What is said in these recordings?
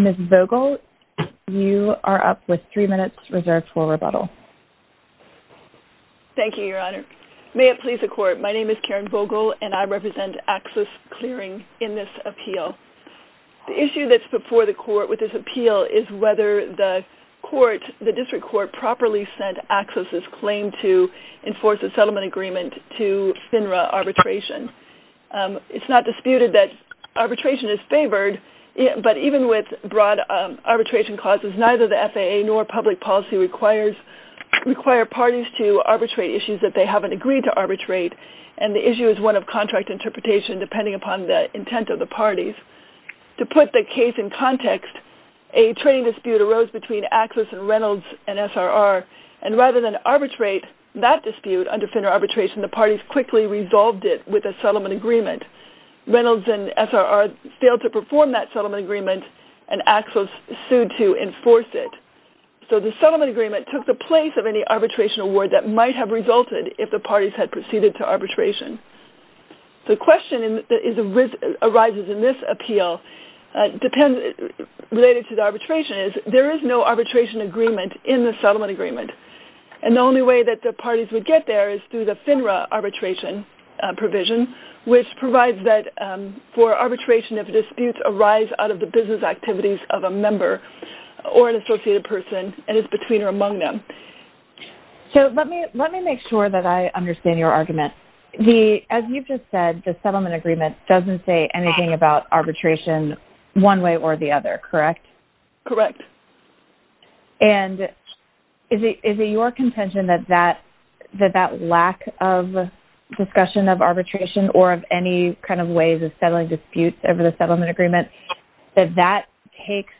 Ms. Vogel you are up with three minutes reserved for rebuttal. Thank you, Your Honor. May it please the court, my name is Karen Vogel and I represent Axis Clearing in this appeal. The issue that's before the court with this appeal is whether the court, the district court, properly sent Axis' claim to enforce a settlement agreement to the District Court of New York. It's not disputed that arbitration is favored but even with broad arbitration clauses, neither the FAA nor public policy requires parties to arbitrate issues that they haven't agreed to arbitrate and the issue is one of contract interpretation depending upon the intent of the parties. To put the case in context, a training dispute arose between Axis and Reynolds and SRR and rather than arbitrate that dispute under FINRA arbitration, the parties quickly resolved it with a settlement agreement. Reynolds and SRR failed to perform that settlement agreement and Axis sued to enforce it. So the settlement agreement took the place of any arbitration award that might have resulted if the parties had proceeded to arbitration. The question that arises in this appeal related to the arbitration is there is no arbitration agreement in the settlement agreement and the only way that the parties would get there is through the FINRA arbitration provision which provides that for arbitration if disputes arise out of the business activities of a member or an associated person and it's between or among them. So let me make sure that I understand your argument. As you've just said, the settlement agreement doesn't say anything about arbitration one way or the other, correct? Correct. And is it your contention that that lack of discussion of arbitration or of any kind of ways of settling disputes over the settlement agreement, that that takes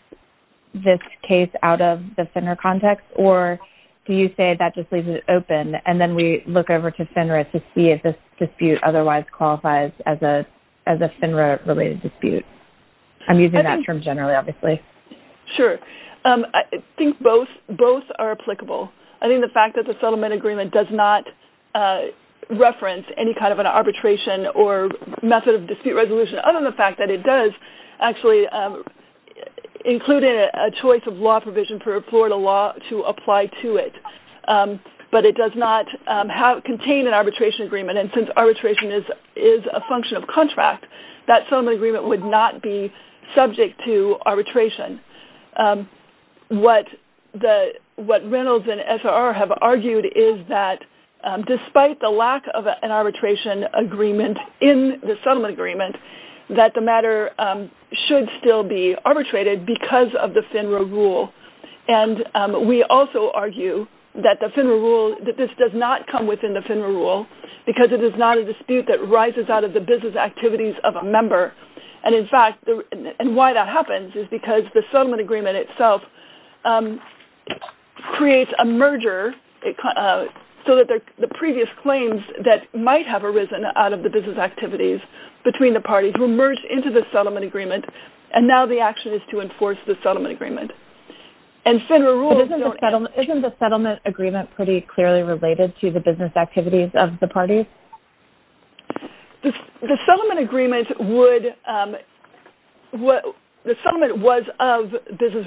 this case out of the FINRA context or do you say that just leaves it open and then we look over to FINRA to see if this dispute otherwise qualifies as a FINRA related dispute? I'm using that term generally obviously. Sure. I think both are applicable. I think the fact that the settlement agreement does not reference any kind of an arbitration or method of dispute resolution other than the fact that it does actually include a choice of law provision for Florida law to apply to it. But it does not contain an arbitration agreement and since arbitration is a function of contract, that settlement agreement would not be subject to arbitration. What Reynolds and SRR have argued is that despite the lack of an arbitration agreement in the settlement agreement, that the matter should still be arbitrated because of the FINRA rule. And we also argue that the FINRA rule, that this does not come within the FINRA rule because it is not a dispute that rises out of the business activities of a member and in fact, and why that happens is because the settlement agreement itself creates a merger so that the previous claims that might have arisen out of the business activities between the parties were merged into the settlement agreement and now the action is to enforce the settlement agreement. Isn't the settlement agreement pretty clearly related to the business activities of the parties? The settlement agreement was of business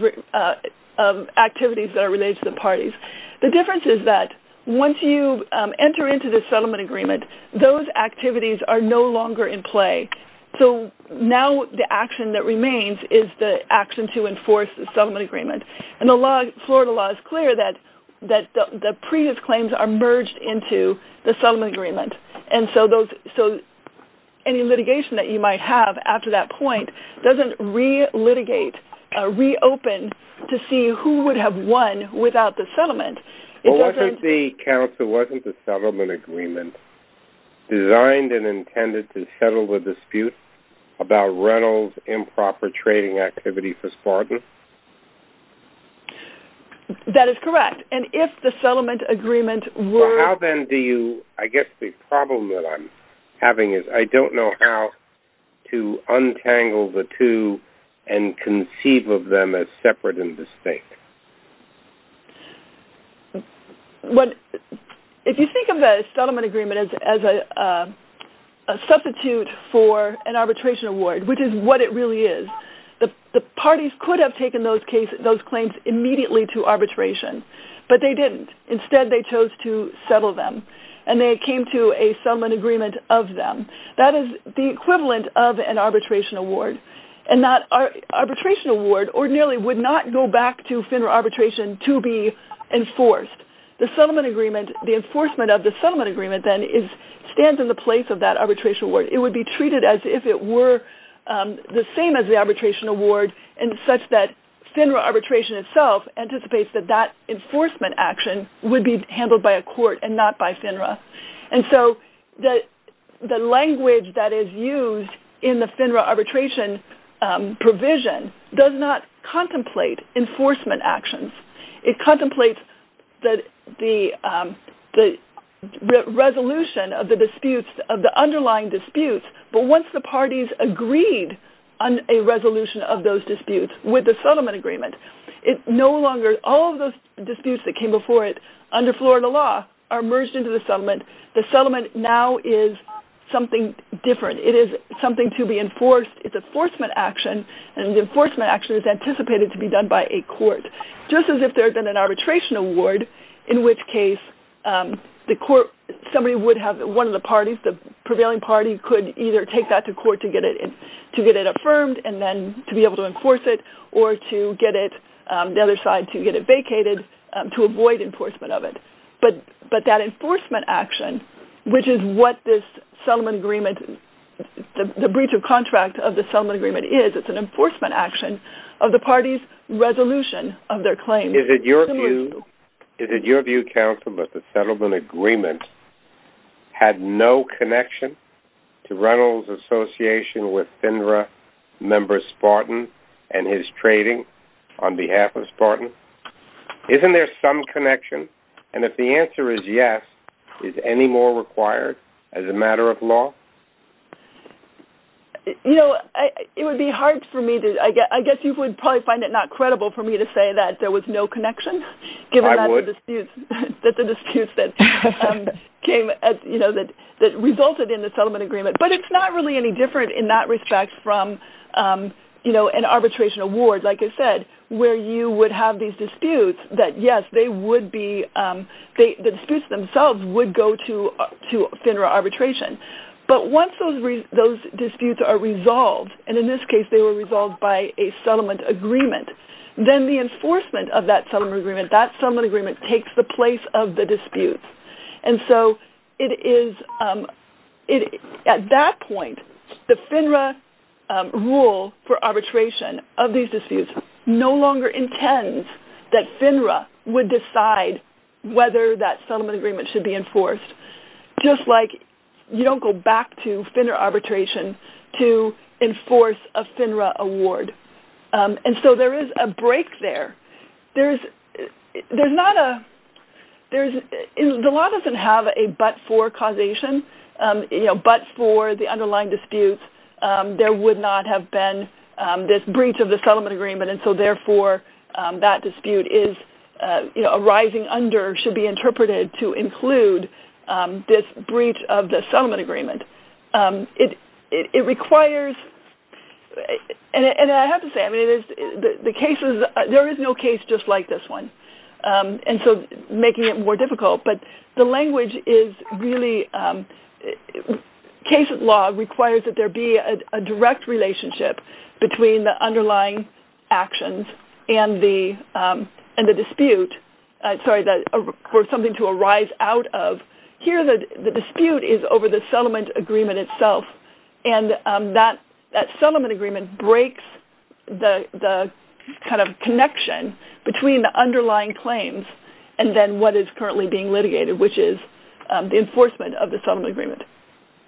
activities that are related to the parties. The difference is that once you enter into the settlement agreement, those activities are no longer in play. So now the action that remains is the action to enforce the settlement agreement and the Florida law is clear that the previous claims are merged into the settlement agreement and so any litigation that you might have after that point doesn't re-litigate, re-open to see who would have won without the settlement. Well wasn't the council, wasn't the settlement agreement designed and intended to settle the dispute about Reynolds improper trading activity for Spartan? That is correct and if the settlement agreement were... So how then do you, I guess the problem that I'm having is I don't know how to untangle the two and conceive of them as separate and distinct. If you think of the settlement agreement as a substitute for an arbitration award, which is what it really is, the parties could have taken those claims immediately to arbitration but they didn't. Instead they chose to settle them and they came to a settlement agreement of them. That is the equivalent of an arbitration award and that arbitration award ordinarily would not go back to FINRA arbitration to be enforced. The settlement agreement, the enforcement of the settlement agreement then stands in the place of that arbitration award. It would be treated as if it were the same as the arbitration award and such that FINRA arbitration itself anticipates that that enforcement action would be handled by a court and not by FINRA. And so the language that is used in the FINRA arbitration provision does not contemplate enforcement actions. It contemplates the resolution of the underlying disputes but once the parties agreed on a resolution of those disputes with the settlement agreement, all of those disputes that came before it under Florida law are merged into the settlement. The settlement now is something different. It is something to be enforced. It's an enforcement action and the enforcement action is anticipated to be done by a court. It's as if there had been an arbitration award in which case somebody would have one of the parties, the prevailing party could either take that to court to get it affirmed and then to be able to enforce it or to get it, the other side to get it vacated to avoid enforcement of it. But that enforcement action which is what this settlement agreement, the breach of contract of the settlement agreement is, it's an enforcement action of the parties' resolution of their claims. Is it your view, counsel, that the settlement agreement had no connection to Reynolds' association with FINRA members Spartan and his trading on behalf of Spartan? Isn't there some connection? And if the answer is yes, is any more required as a matter of law? You know, it would be hard for me to, I guess you would probably find it not credible for me to say that there was no connection. I would. Given that the disputes that came, you know, that resulted in the settlement agreement. But it's not really any different in that respect from, you know, an arbitration award, like I said, where you would have these disputes that yes, they would be, the disputes themselves would go to FINRA arbitration. But once those disputes are resolved, and in this case they were resolved by a settlement agreement, then the enforcement of that settlement agreement, that settlement agreement takes the place of the disputes. And so it is, at that point, the FINRA rule for arbitration of these disputes no longer intends that FINRA would decide whether that settlement agreement should be enforced. Just like you don't go back to FINRA arbitration to enforce a FINRA award. And so there is a break there. There's not a, there's, the law doesn't have a but for causation, you know, but for the underlying disputes, there would not have been this breach of the settlement agreement. And so therefore, that dispute is, you know, arising under, should be interpreted to include this breach of the settlement agreement. It requires, and I have to say, I mean, the cases, there is no case just like this one. And so making it more difficult, but the language is really, case law requires that there be a direct relationship between the underlying actions and the dispute, sorry, for something to arise out of. Here the dispute is over the settlement agreement itself. And that settlement agreement breaks the kind of connection between the underlying claims and then what is currently being litigated, which is the enforcement of the settlement agreement.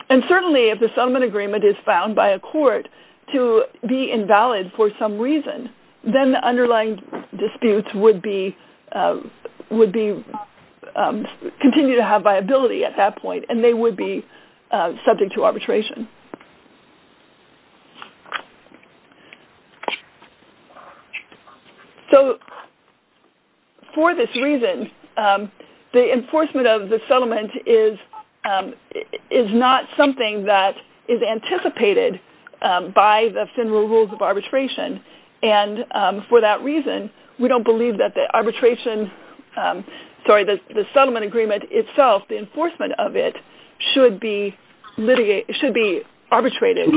And certainly if the settlement agreement is found by a court to be invalid for some reason, then the underlying disputes would be, would be, continue to have viability at that point, and they would be subject to arbitration. So for this reason, the enforcement of the settlement is not something that is anticipated by the general rules of arbitration. And for that reason, we don't believe that the arbitration, sorry, the settlement agreement itself, the enforcement of it should be litigated, should be arbitrated.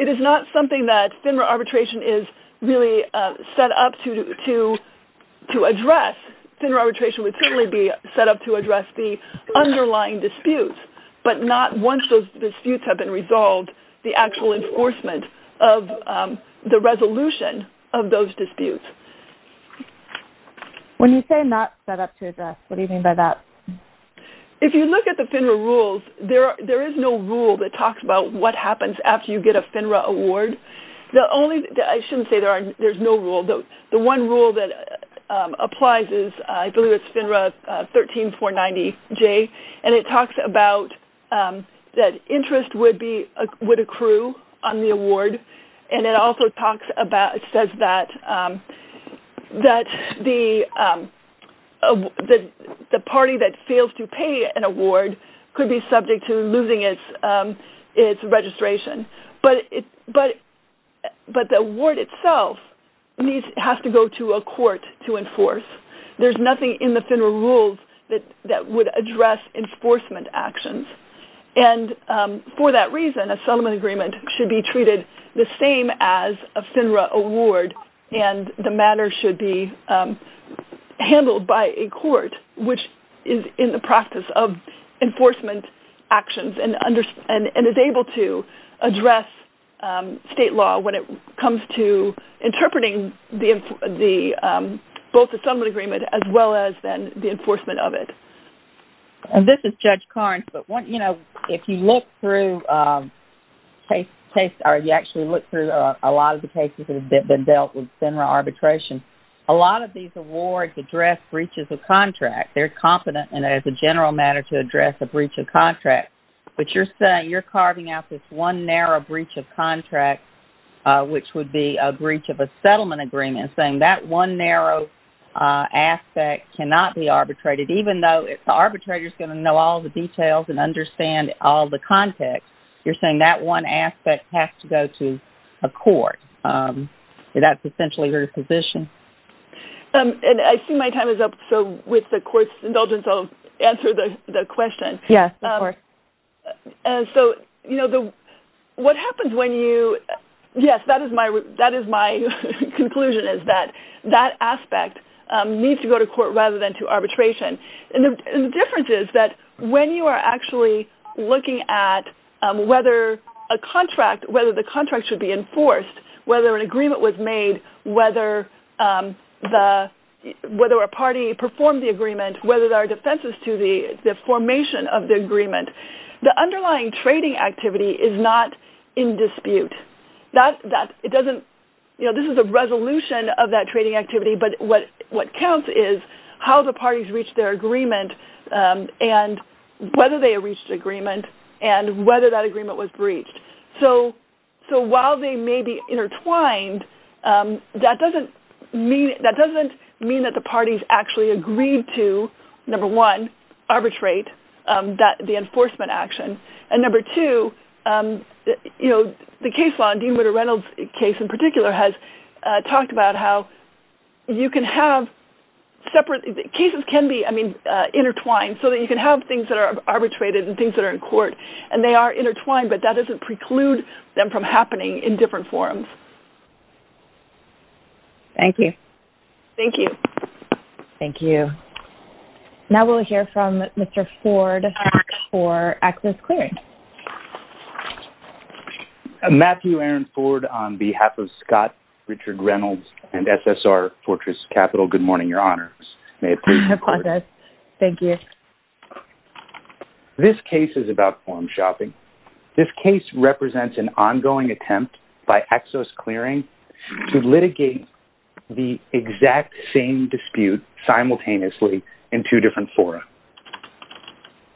It is not something that FINRA arbitration is really set up to address. FINRA arbitration would certainly be set up to address the underlying disputes, but not once those disputes have been resolved, the actual enforcement of the resolution of those disputes. When you say not set up to address, what do you mean by that? If you look at the FINRA rules, there is no rule that talks about what happens after you get a FINRA award. The only, I shouldn't say there are, there's no rule. The one rule that applies is, I believe it's FINRA 13490J, and it talks about that interest would be, would accrue on the award, and it also talks about, says that the party that fails to pay an award could be subject to losing its registration. But the award itself needs, has to go to a court to enforce. There's nothing in the FINRA rules that would address enforcement actions. And for that reason, a settlement agreement should be treated the same as a FINRA award, and the matter should be handled by a court which is in the practice of enforcement actions and is able to address state law when it comes to interpreting both the settlement agreement as well as then the enforcement of it. And this is Judge Carnes, but, you know, if you look through case, or you actually look through a lot of the cases that have been dealt with FINRA arbitration, a lot of these awards address breaches of contract. They're competent, and as a general matter, to address a breach of contract. But you're saying, you're carving out this one narrow breach of contract, which would be a breach of a settlement agreement, saying that one narrow aspect cannot be arbitrated, and so if the arbitrator's going to know all the details and understand all the context, you're saying that one aspect has to go to a court. That's essentially her position. And I see my time is up, so with the court's indulgence, I'll answer the question. Yes, of course. And so, you know, what happens when you, yes, that is my conclusion, is that that aspect needs to go to court rather than to arbitration. And the difference is that when you are actually looking at whether a contract, whether the contract should be enforced, whether an agreement was made, whether the, whether a party performed the agreement, whether there are defenses to the formation of the agreement, the underlying trading activity is not in dispute. That, it doesn't, you know, this is a resolution of that trading activity, but what counts is how the parties reached their agreement and whether they reached agreement and whether that agreement was breached. So while they may be intertwined, that doesn't mean, that doesn't mean that the parties actually agreed to, number one, arbitrate that, the enforcement action. And number two, you know, the case law, and Dean Winter Reynolds' case in particular has talked about how you can have separate, cases can be, I mean, intertwined so that you can have things that are arbitrated and things that are in court and they are intertwined, but that doesn't preclude them from happening in different forms. Thank you. Thank you. Thank you. Now we'll hear from Mr. Ford for access clearance. Matthew Aaron Ford on behalf of Scott Richard Reynolds and SSR Fortress Capital. Good morning, Your Honor. Thank you. This case is about forum shopping. This case represents an ongoing attempt by access clearing to litigate the exact same dispute simultaneously in two different forums.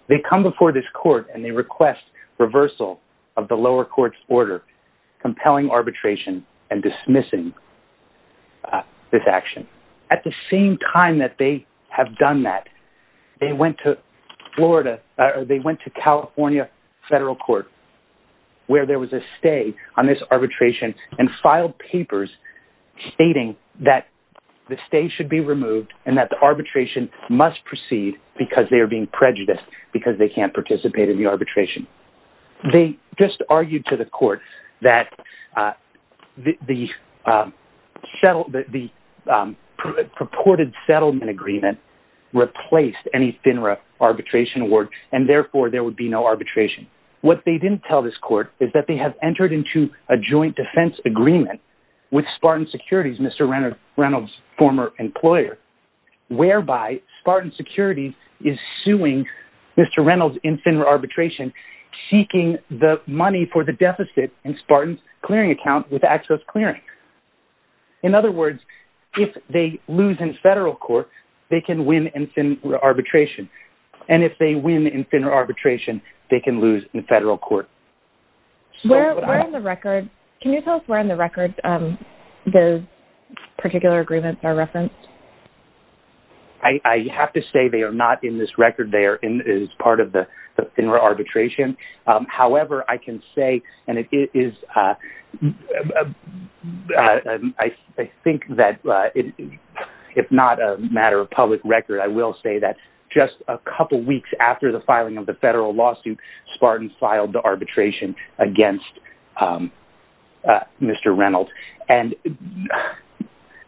They come before this court and they request reversal of the lower court's order, compelling arbitration and dismissing this action. At the same time that they have done that, they went to Florida, or they went to California federal court, where there was a stay on this arbitration and filed papers stating that the stay should be removed and that the arbitration must proceed because they are being prejudiced because they can't participate in the arbitration. They just argued to the court that the purported settlement agreement replaced any FINRA arbitration award and therefore there would be no arbitration. What they didn't tell this court is that they have entered into a joint defense agreement with Spartan Securities, Mr. Reynolds' former employer, whereby Spartan Securities is suing Mr. Reynolds in FINRA arbitration, seeking the money for the deficit in Spartan's clearing account with access clearing. In other words, if they lose in federal court, they can win in FINRA arbitration. And if they win in FINRA arbitration, they can lose in federal court. Can you tell us where in the record those particular agreements are referenced? I have to say they are not in this record. They are part of the FINRA arbitration. However, I can say, and I think that if not a matter of public record, I will say that just a couple weeks after the filing of the federal lawsuit, Spartan filed the arbitration against Mr. Reynolds. And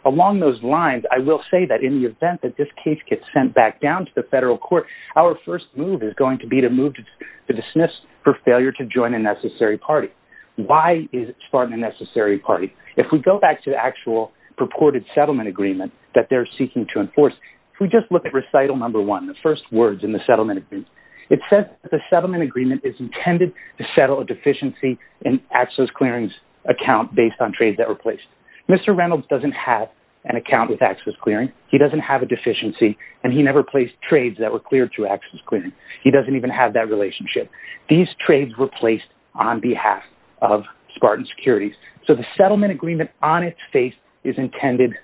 along those lines, I will say that in the event that this case gets sent back down to the federal court, our first move is going to be to move to dismiss for failure to join a necessary party. Why is Spartan a necessary party? If we go back to the actual purported settlement agreement that they're seeking to enforce, if we just look at recital number one, the first words in the settlement agreement, it says that the settlement agreement is intended to settle a deficiency in Axios Clearings account based on trades that were placed. Mr. Reynolds doesn't have an account with Axios Clearing. He doesn't have a deficiency, and he never placed trades that were cleared through Axios Clearing. He doesn't even have that relationship. These trades were placed on behalf of Spartan Securities. So the settlement agreement on its face is intended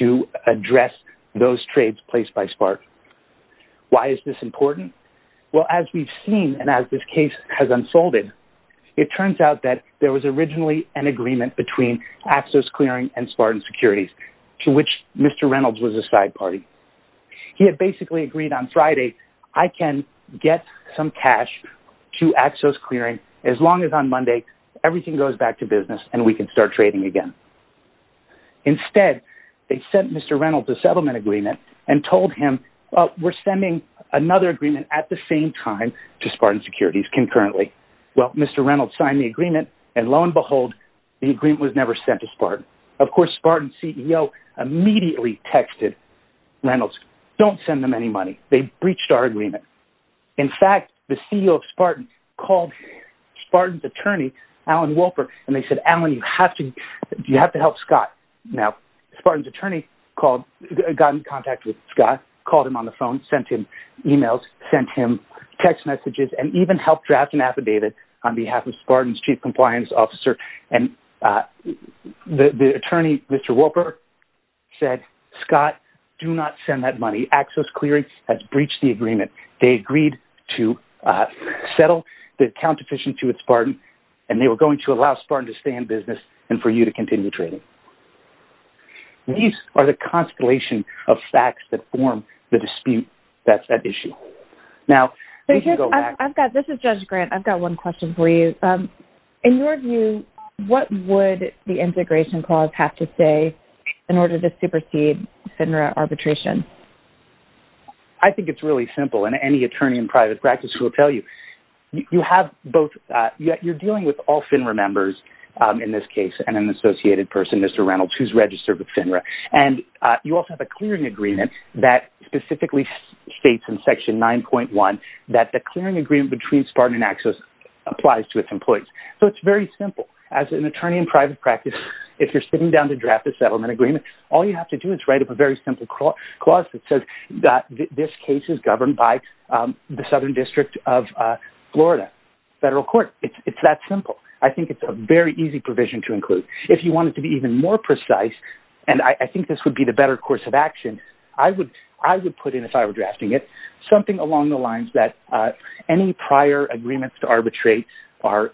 to address those trades placed by Spartan. Why is this important? Well, as we've seen and as this case has unfolded, it turns out that there was originally an agreement between Axios Clearing and Spartan Securities, to which Mr. Reynolds was a side party. He had basically agreed on Friday, I can get some cash to Axios Clearing as long as on Monday everything goes back to business and we can start trading again. Instead, they sent Mr. Reynolds a settlement agreement and told him, we're sending another agreement at the same time to Spartan Securities concurrently. Well, Mr. Reynolds signed the agreement, and lo and behold, the agreement was never sent to Spartan. Of course, Spartan CEO immediately texted Reynolds, don't send them any money. They breached our agreement. In fact, the CEO of Spartan called Spartan's attorney, Alan Wolpert, and they said, Alan, you have to help Scott. Now, Spartan's attorney got in contact with Scott, called him on the phone, sent him emails, sent him text messages, and even helped draft an affidavit on behalf of Spartan's chief compliance officer. And the attorney, Mr. Wolpert, said, Scott, do not send that money. Axios Clearing has breached the agreement. They agreed to settle the account deficiency with Spartan, and they were going to allow Spartan to stay in business and for you to continue trading. These are the constellation of facts that form the dispute that's at issue. Now, we can go back. This is Judge Grant. I've got one question for you. In your view, what would the integration clause have to say in order to supersede FINRA arbitration? I think it's really simple, and any attorney in private practice will tell you. You have both – you're dealing with all FINRA members in this case, and an associated person, Mr. Reynolds, who's registered with FINRA. And you also have a clearing agreement that specifically states in Section 9.1 that the clearing agreement between Spartan and Axios applies to its employees. So it's very simple. As an attorney in private practice, if you're sitting down to draft a settlement agreement, all you have to do is write up a very simple clause that says that this case is governed by the Southern District of Florida Federal Court. It's that simple. I think it's a very easy provision to include. If you want it to be even more precise, and I think this would be the better course of action, I would put in, if I were drafting it, something along the lines that any prior agreements to arbitrate are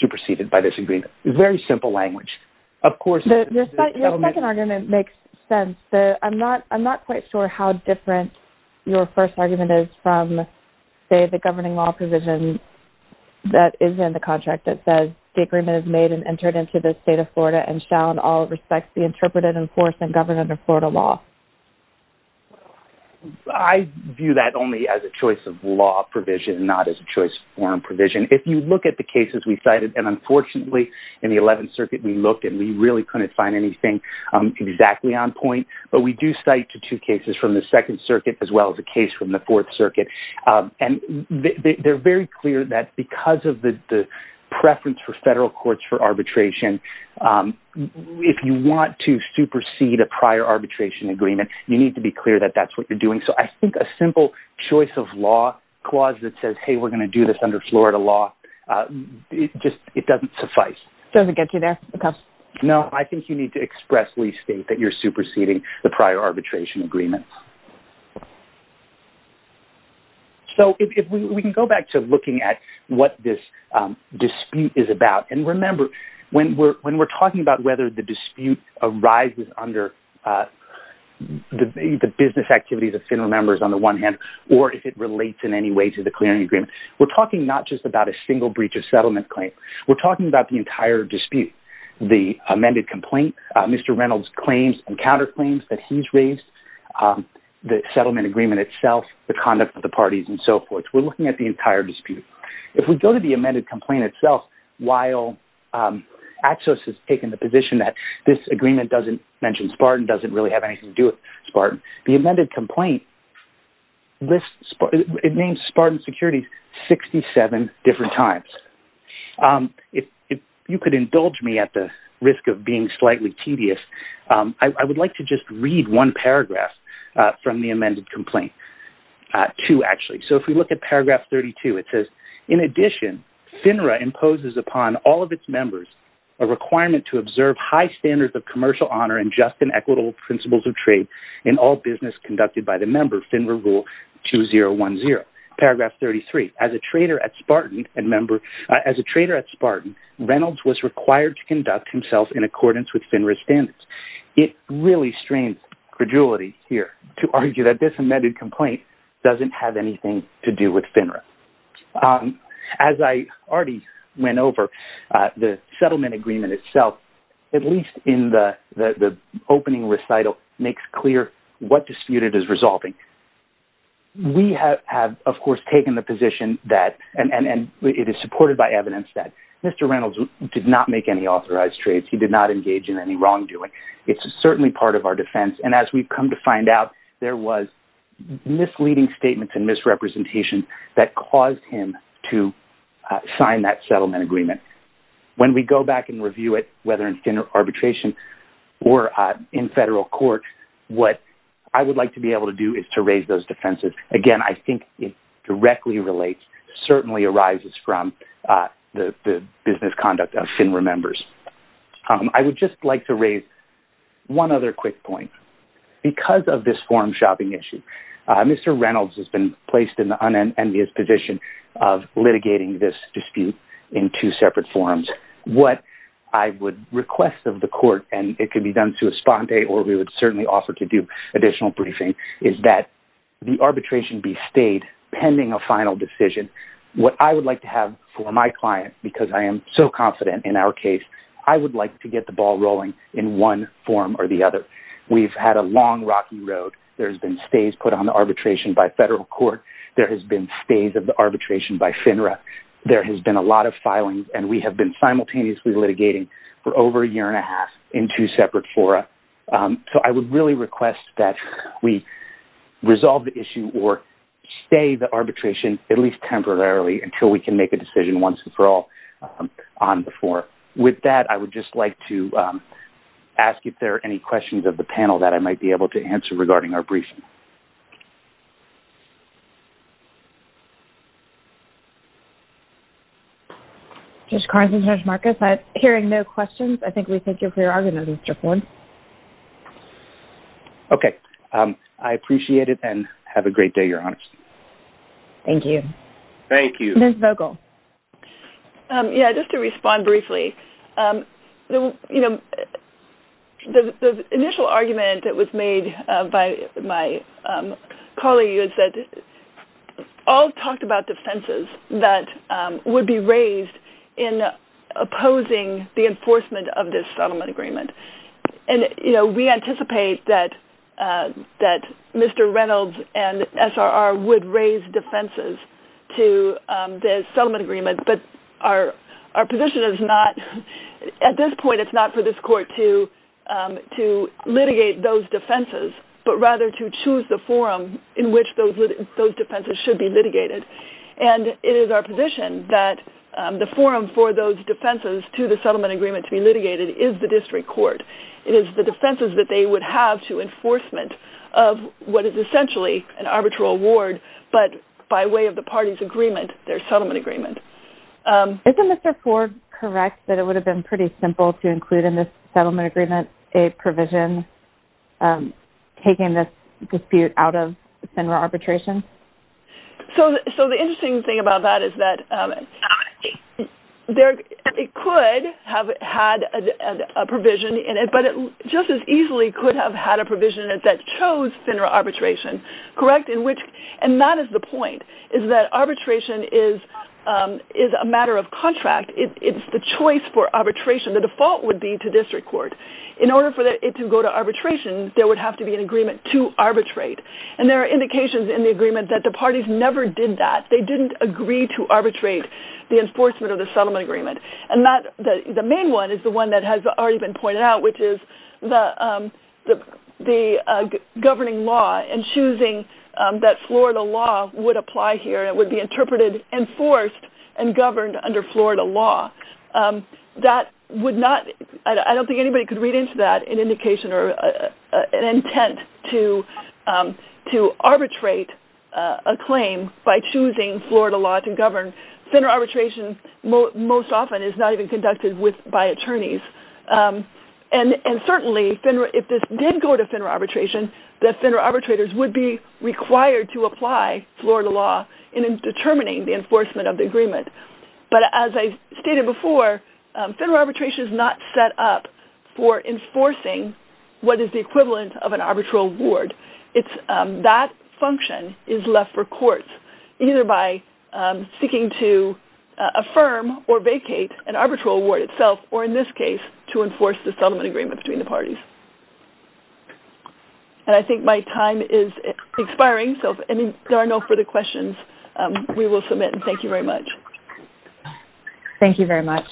superseded by this agreement. Very simple language. Of course – Your second argument makes sense. I'm not quite sure how different your first argument is from, say, the governing law provision that is in the contract that says, the agreement is made and entered into the State of Florida and shall in all respects be interpreted, enforced, and governed under Florida law. I view that only as a choice of law provision, not as a choice of foreign provision. If you look at the cases we cited, and unfortunately, in the Eleventh Circuit, we looked and we really couldn't find anything exactly on point, but we do cite two cases from the Second Circuit as well as a case from the Fourth Circuit, and they're very clear that because of the preference for federal courts for arbitration, if you want to supersede a prior arbitration agreement, you need to be clear that that's what you're doing. So I think a simple choice of law clause that says, hey, we're going to do this under Florida law, it doesn't suffice. Does it get you there? No, I think you need to expressly state that you're superseding the prior arbitration agreement. So if we can go back to looking at what this dispute is about, and remember, when we're talking about whether the dispute arises under the business activities of FINRA members on the one hand, or if it relates in any way to the clearing agreement, we're talking not just about a single breach of settlement claim, we're talking about the entire dispute. The amended complaint, Mr. Reynolds' claims and counterclaims that he's raised, the settlement agreement itself, the conduct of the parties, and so forth. We're looking at the entire dispute. If we go to the amended complaint itself, while Axios has taken the position that this agreement doesn't mention Spartan, doesn't really have anything to do with Spartan, the amended complaint lists Spartan securities 67 different times. If you could indulge me at the risk of being slightly tedious, I would like to just read one paragraph from the amended complaint. Two, actually. So if we look at paragraph 32, it says, in addition, FINRA imposes upon all of its members a requirement to observe high standards of commercial honor and just and equitable principles of trade in all business conducted by the member, FINRA Rule 2010. Paragraph 33. As a trader at Spartan, Reynolds was required to conduct himself in accordance with FINRA standards. It really strains credulity here to argue that this amended complaint doesn't have anything to do with FINRA. As I already went over, the settlement agreement itself, at least in the opening recital, makes clear what dispute it is resolving. We have, of course, taken the position that, and it is supported by evidence, that Mr. Reynolds did not make any authorized trades. He did not engage in any wrongdoing. It's certainly part of our defense, and as we've come to find out, there was misleading statements and misrepresentation that caused him to sign that settlement agreement. When we go back and review it, whether it's in arbitration or in federal court, what I would like to be able to do is to raise those defenses. Again, I think it directly relates, certainly arises from the business conduct of FINRA members. I would just like to raise one other quick point. Because of this forum shopping issue, Mr. Reynolds has been placed in the unenvious position of litigating this dispute in two separate forums. What I would request of the court, and it can be done to esponte or we would certainly offer to do additional briefing, is that the arbitration be stayed pending a final decision. What I would like to have for my client, because I am so confident in our case, I would like to get the ball rolling in one form or the other. We've had a long, rocky road. There's been stays put on the arbitration by federal court. There has been stays of the arbitration by FINRA. There has been a lot of filings, and we have been simultaneously litigating for over a year and a half in two separate fora. I would really request that we resolve the issue or stay the arbitration, at least temporarily, until we can make a decision once we're all on the floor. With that, I would just like to ask if there are any questions of the panel that I might be able to answer regarding our briefing. Judge Carson, Judge Marcus, I'm hearing no questions. I think we thank you for your argument, Mr. Ford. Okay. I appreciate it, and have a great day, Your Honor. Thank you. Ms. Vogel. Yeah, just to respond briefly. The initial argument that was made by my colleague is that all talked about defenses that would be raised in opposing the enforcement of this settlement agreement. And we anticipate that Mr. Reynolds and SRR would raise defenses to the settlement agreement, but our position is not... At this point, it's not for this court to litigate those defenses, but rather to choose the forum in which those defenses should be litigated. And it is our position that the forum for those defenses to the settlement agreement to be litigated is the district court. It is the defenses that they would have to enforcement of what is essentially an arbitral award, but by way of the party's agreement, their settlement agreement. Isn't Mr. Ford correct that it would have been pretty simple to include in this settlement agreement a provision taking this dispute out of SINRA arbitration? So the interesting thing about that is that it could have had a provision in it, but it just as easily could have had a provision that chose SINRA arbitration, correct? And that is the point, is that arbitration is a matter of contract. It's the choice for arbitration. The default would be to district court. In order for it to go to arbitration, there would have to be an agreement to arbitrate. And there are indications in the agreement that the parties never did that. They didn't agree to arbitrate the enforcement of the settlement agreement. And the main one is the one that has already been pointed out, which is the governing law and choosing that Florida law would apply here. It would be interpreted, enforced, and governed under Florida law. That would not... I don't think anybody could read into that as an indication or an intent to arbitrate a claim by choosing Florida law to govern. SINRA arbitration most often is not even conducted by attorneys. And certainly, if this did go to SINRA arbitration, the SINRA arbitrators would be required to apply Florida law in determining the enforcement of the agreement. But as I stated before, SINRA arbitration is not set up for enforcing what is the equivalent of an arbitral award. That function is left for courts, either by seeking to affirm or vacate an arbitral award itself, or in this case, to enforce the settlement agreement between the parties. And I think my time is expiring, so if there are no further questions, we will submit. And thank you very much. Thank you very much.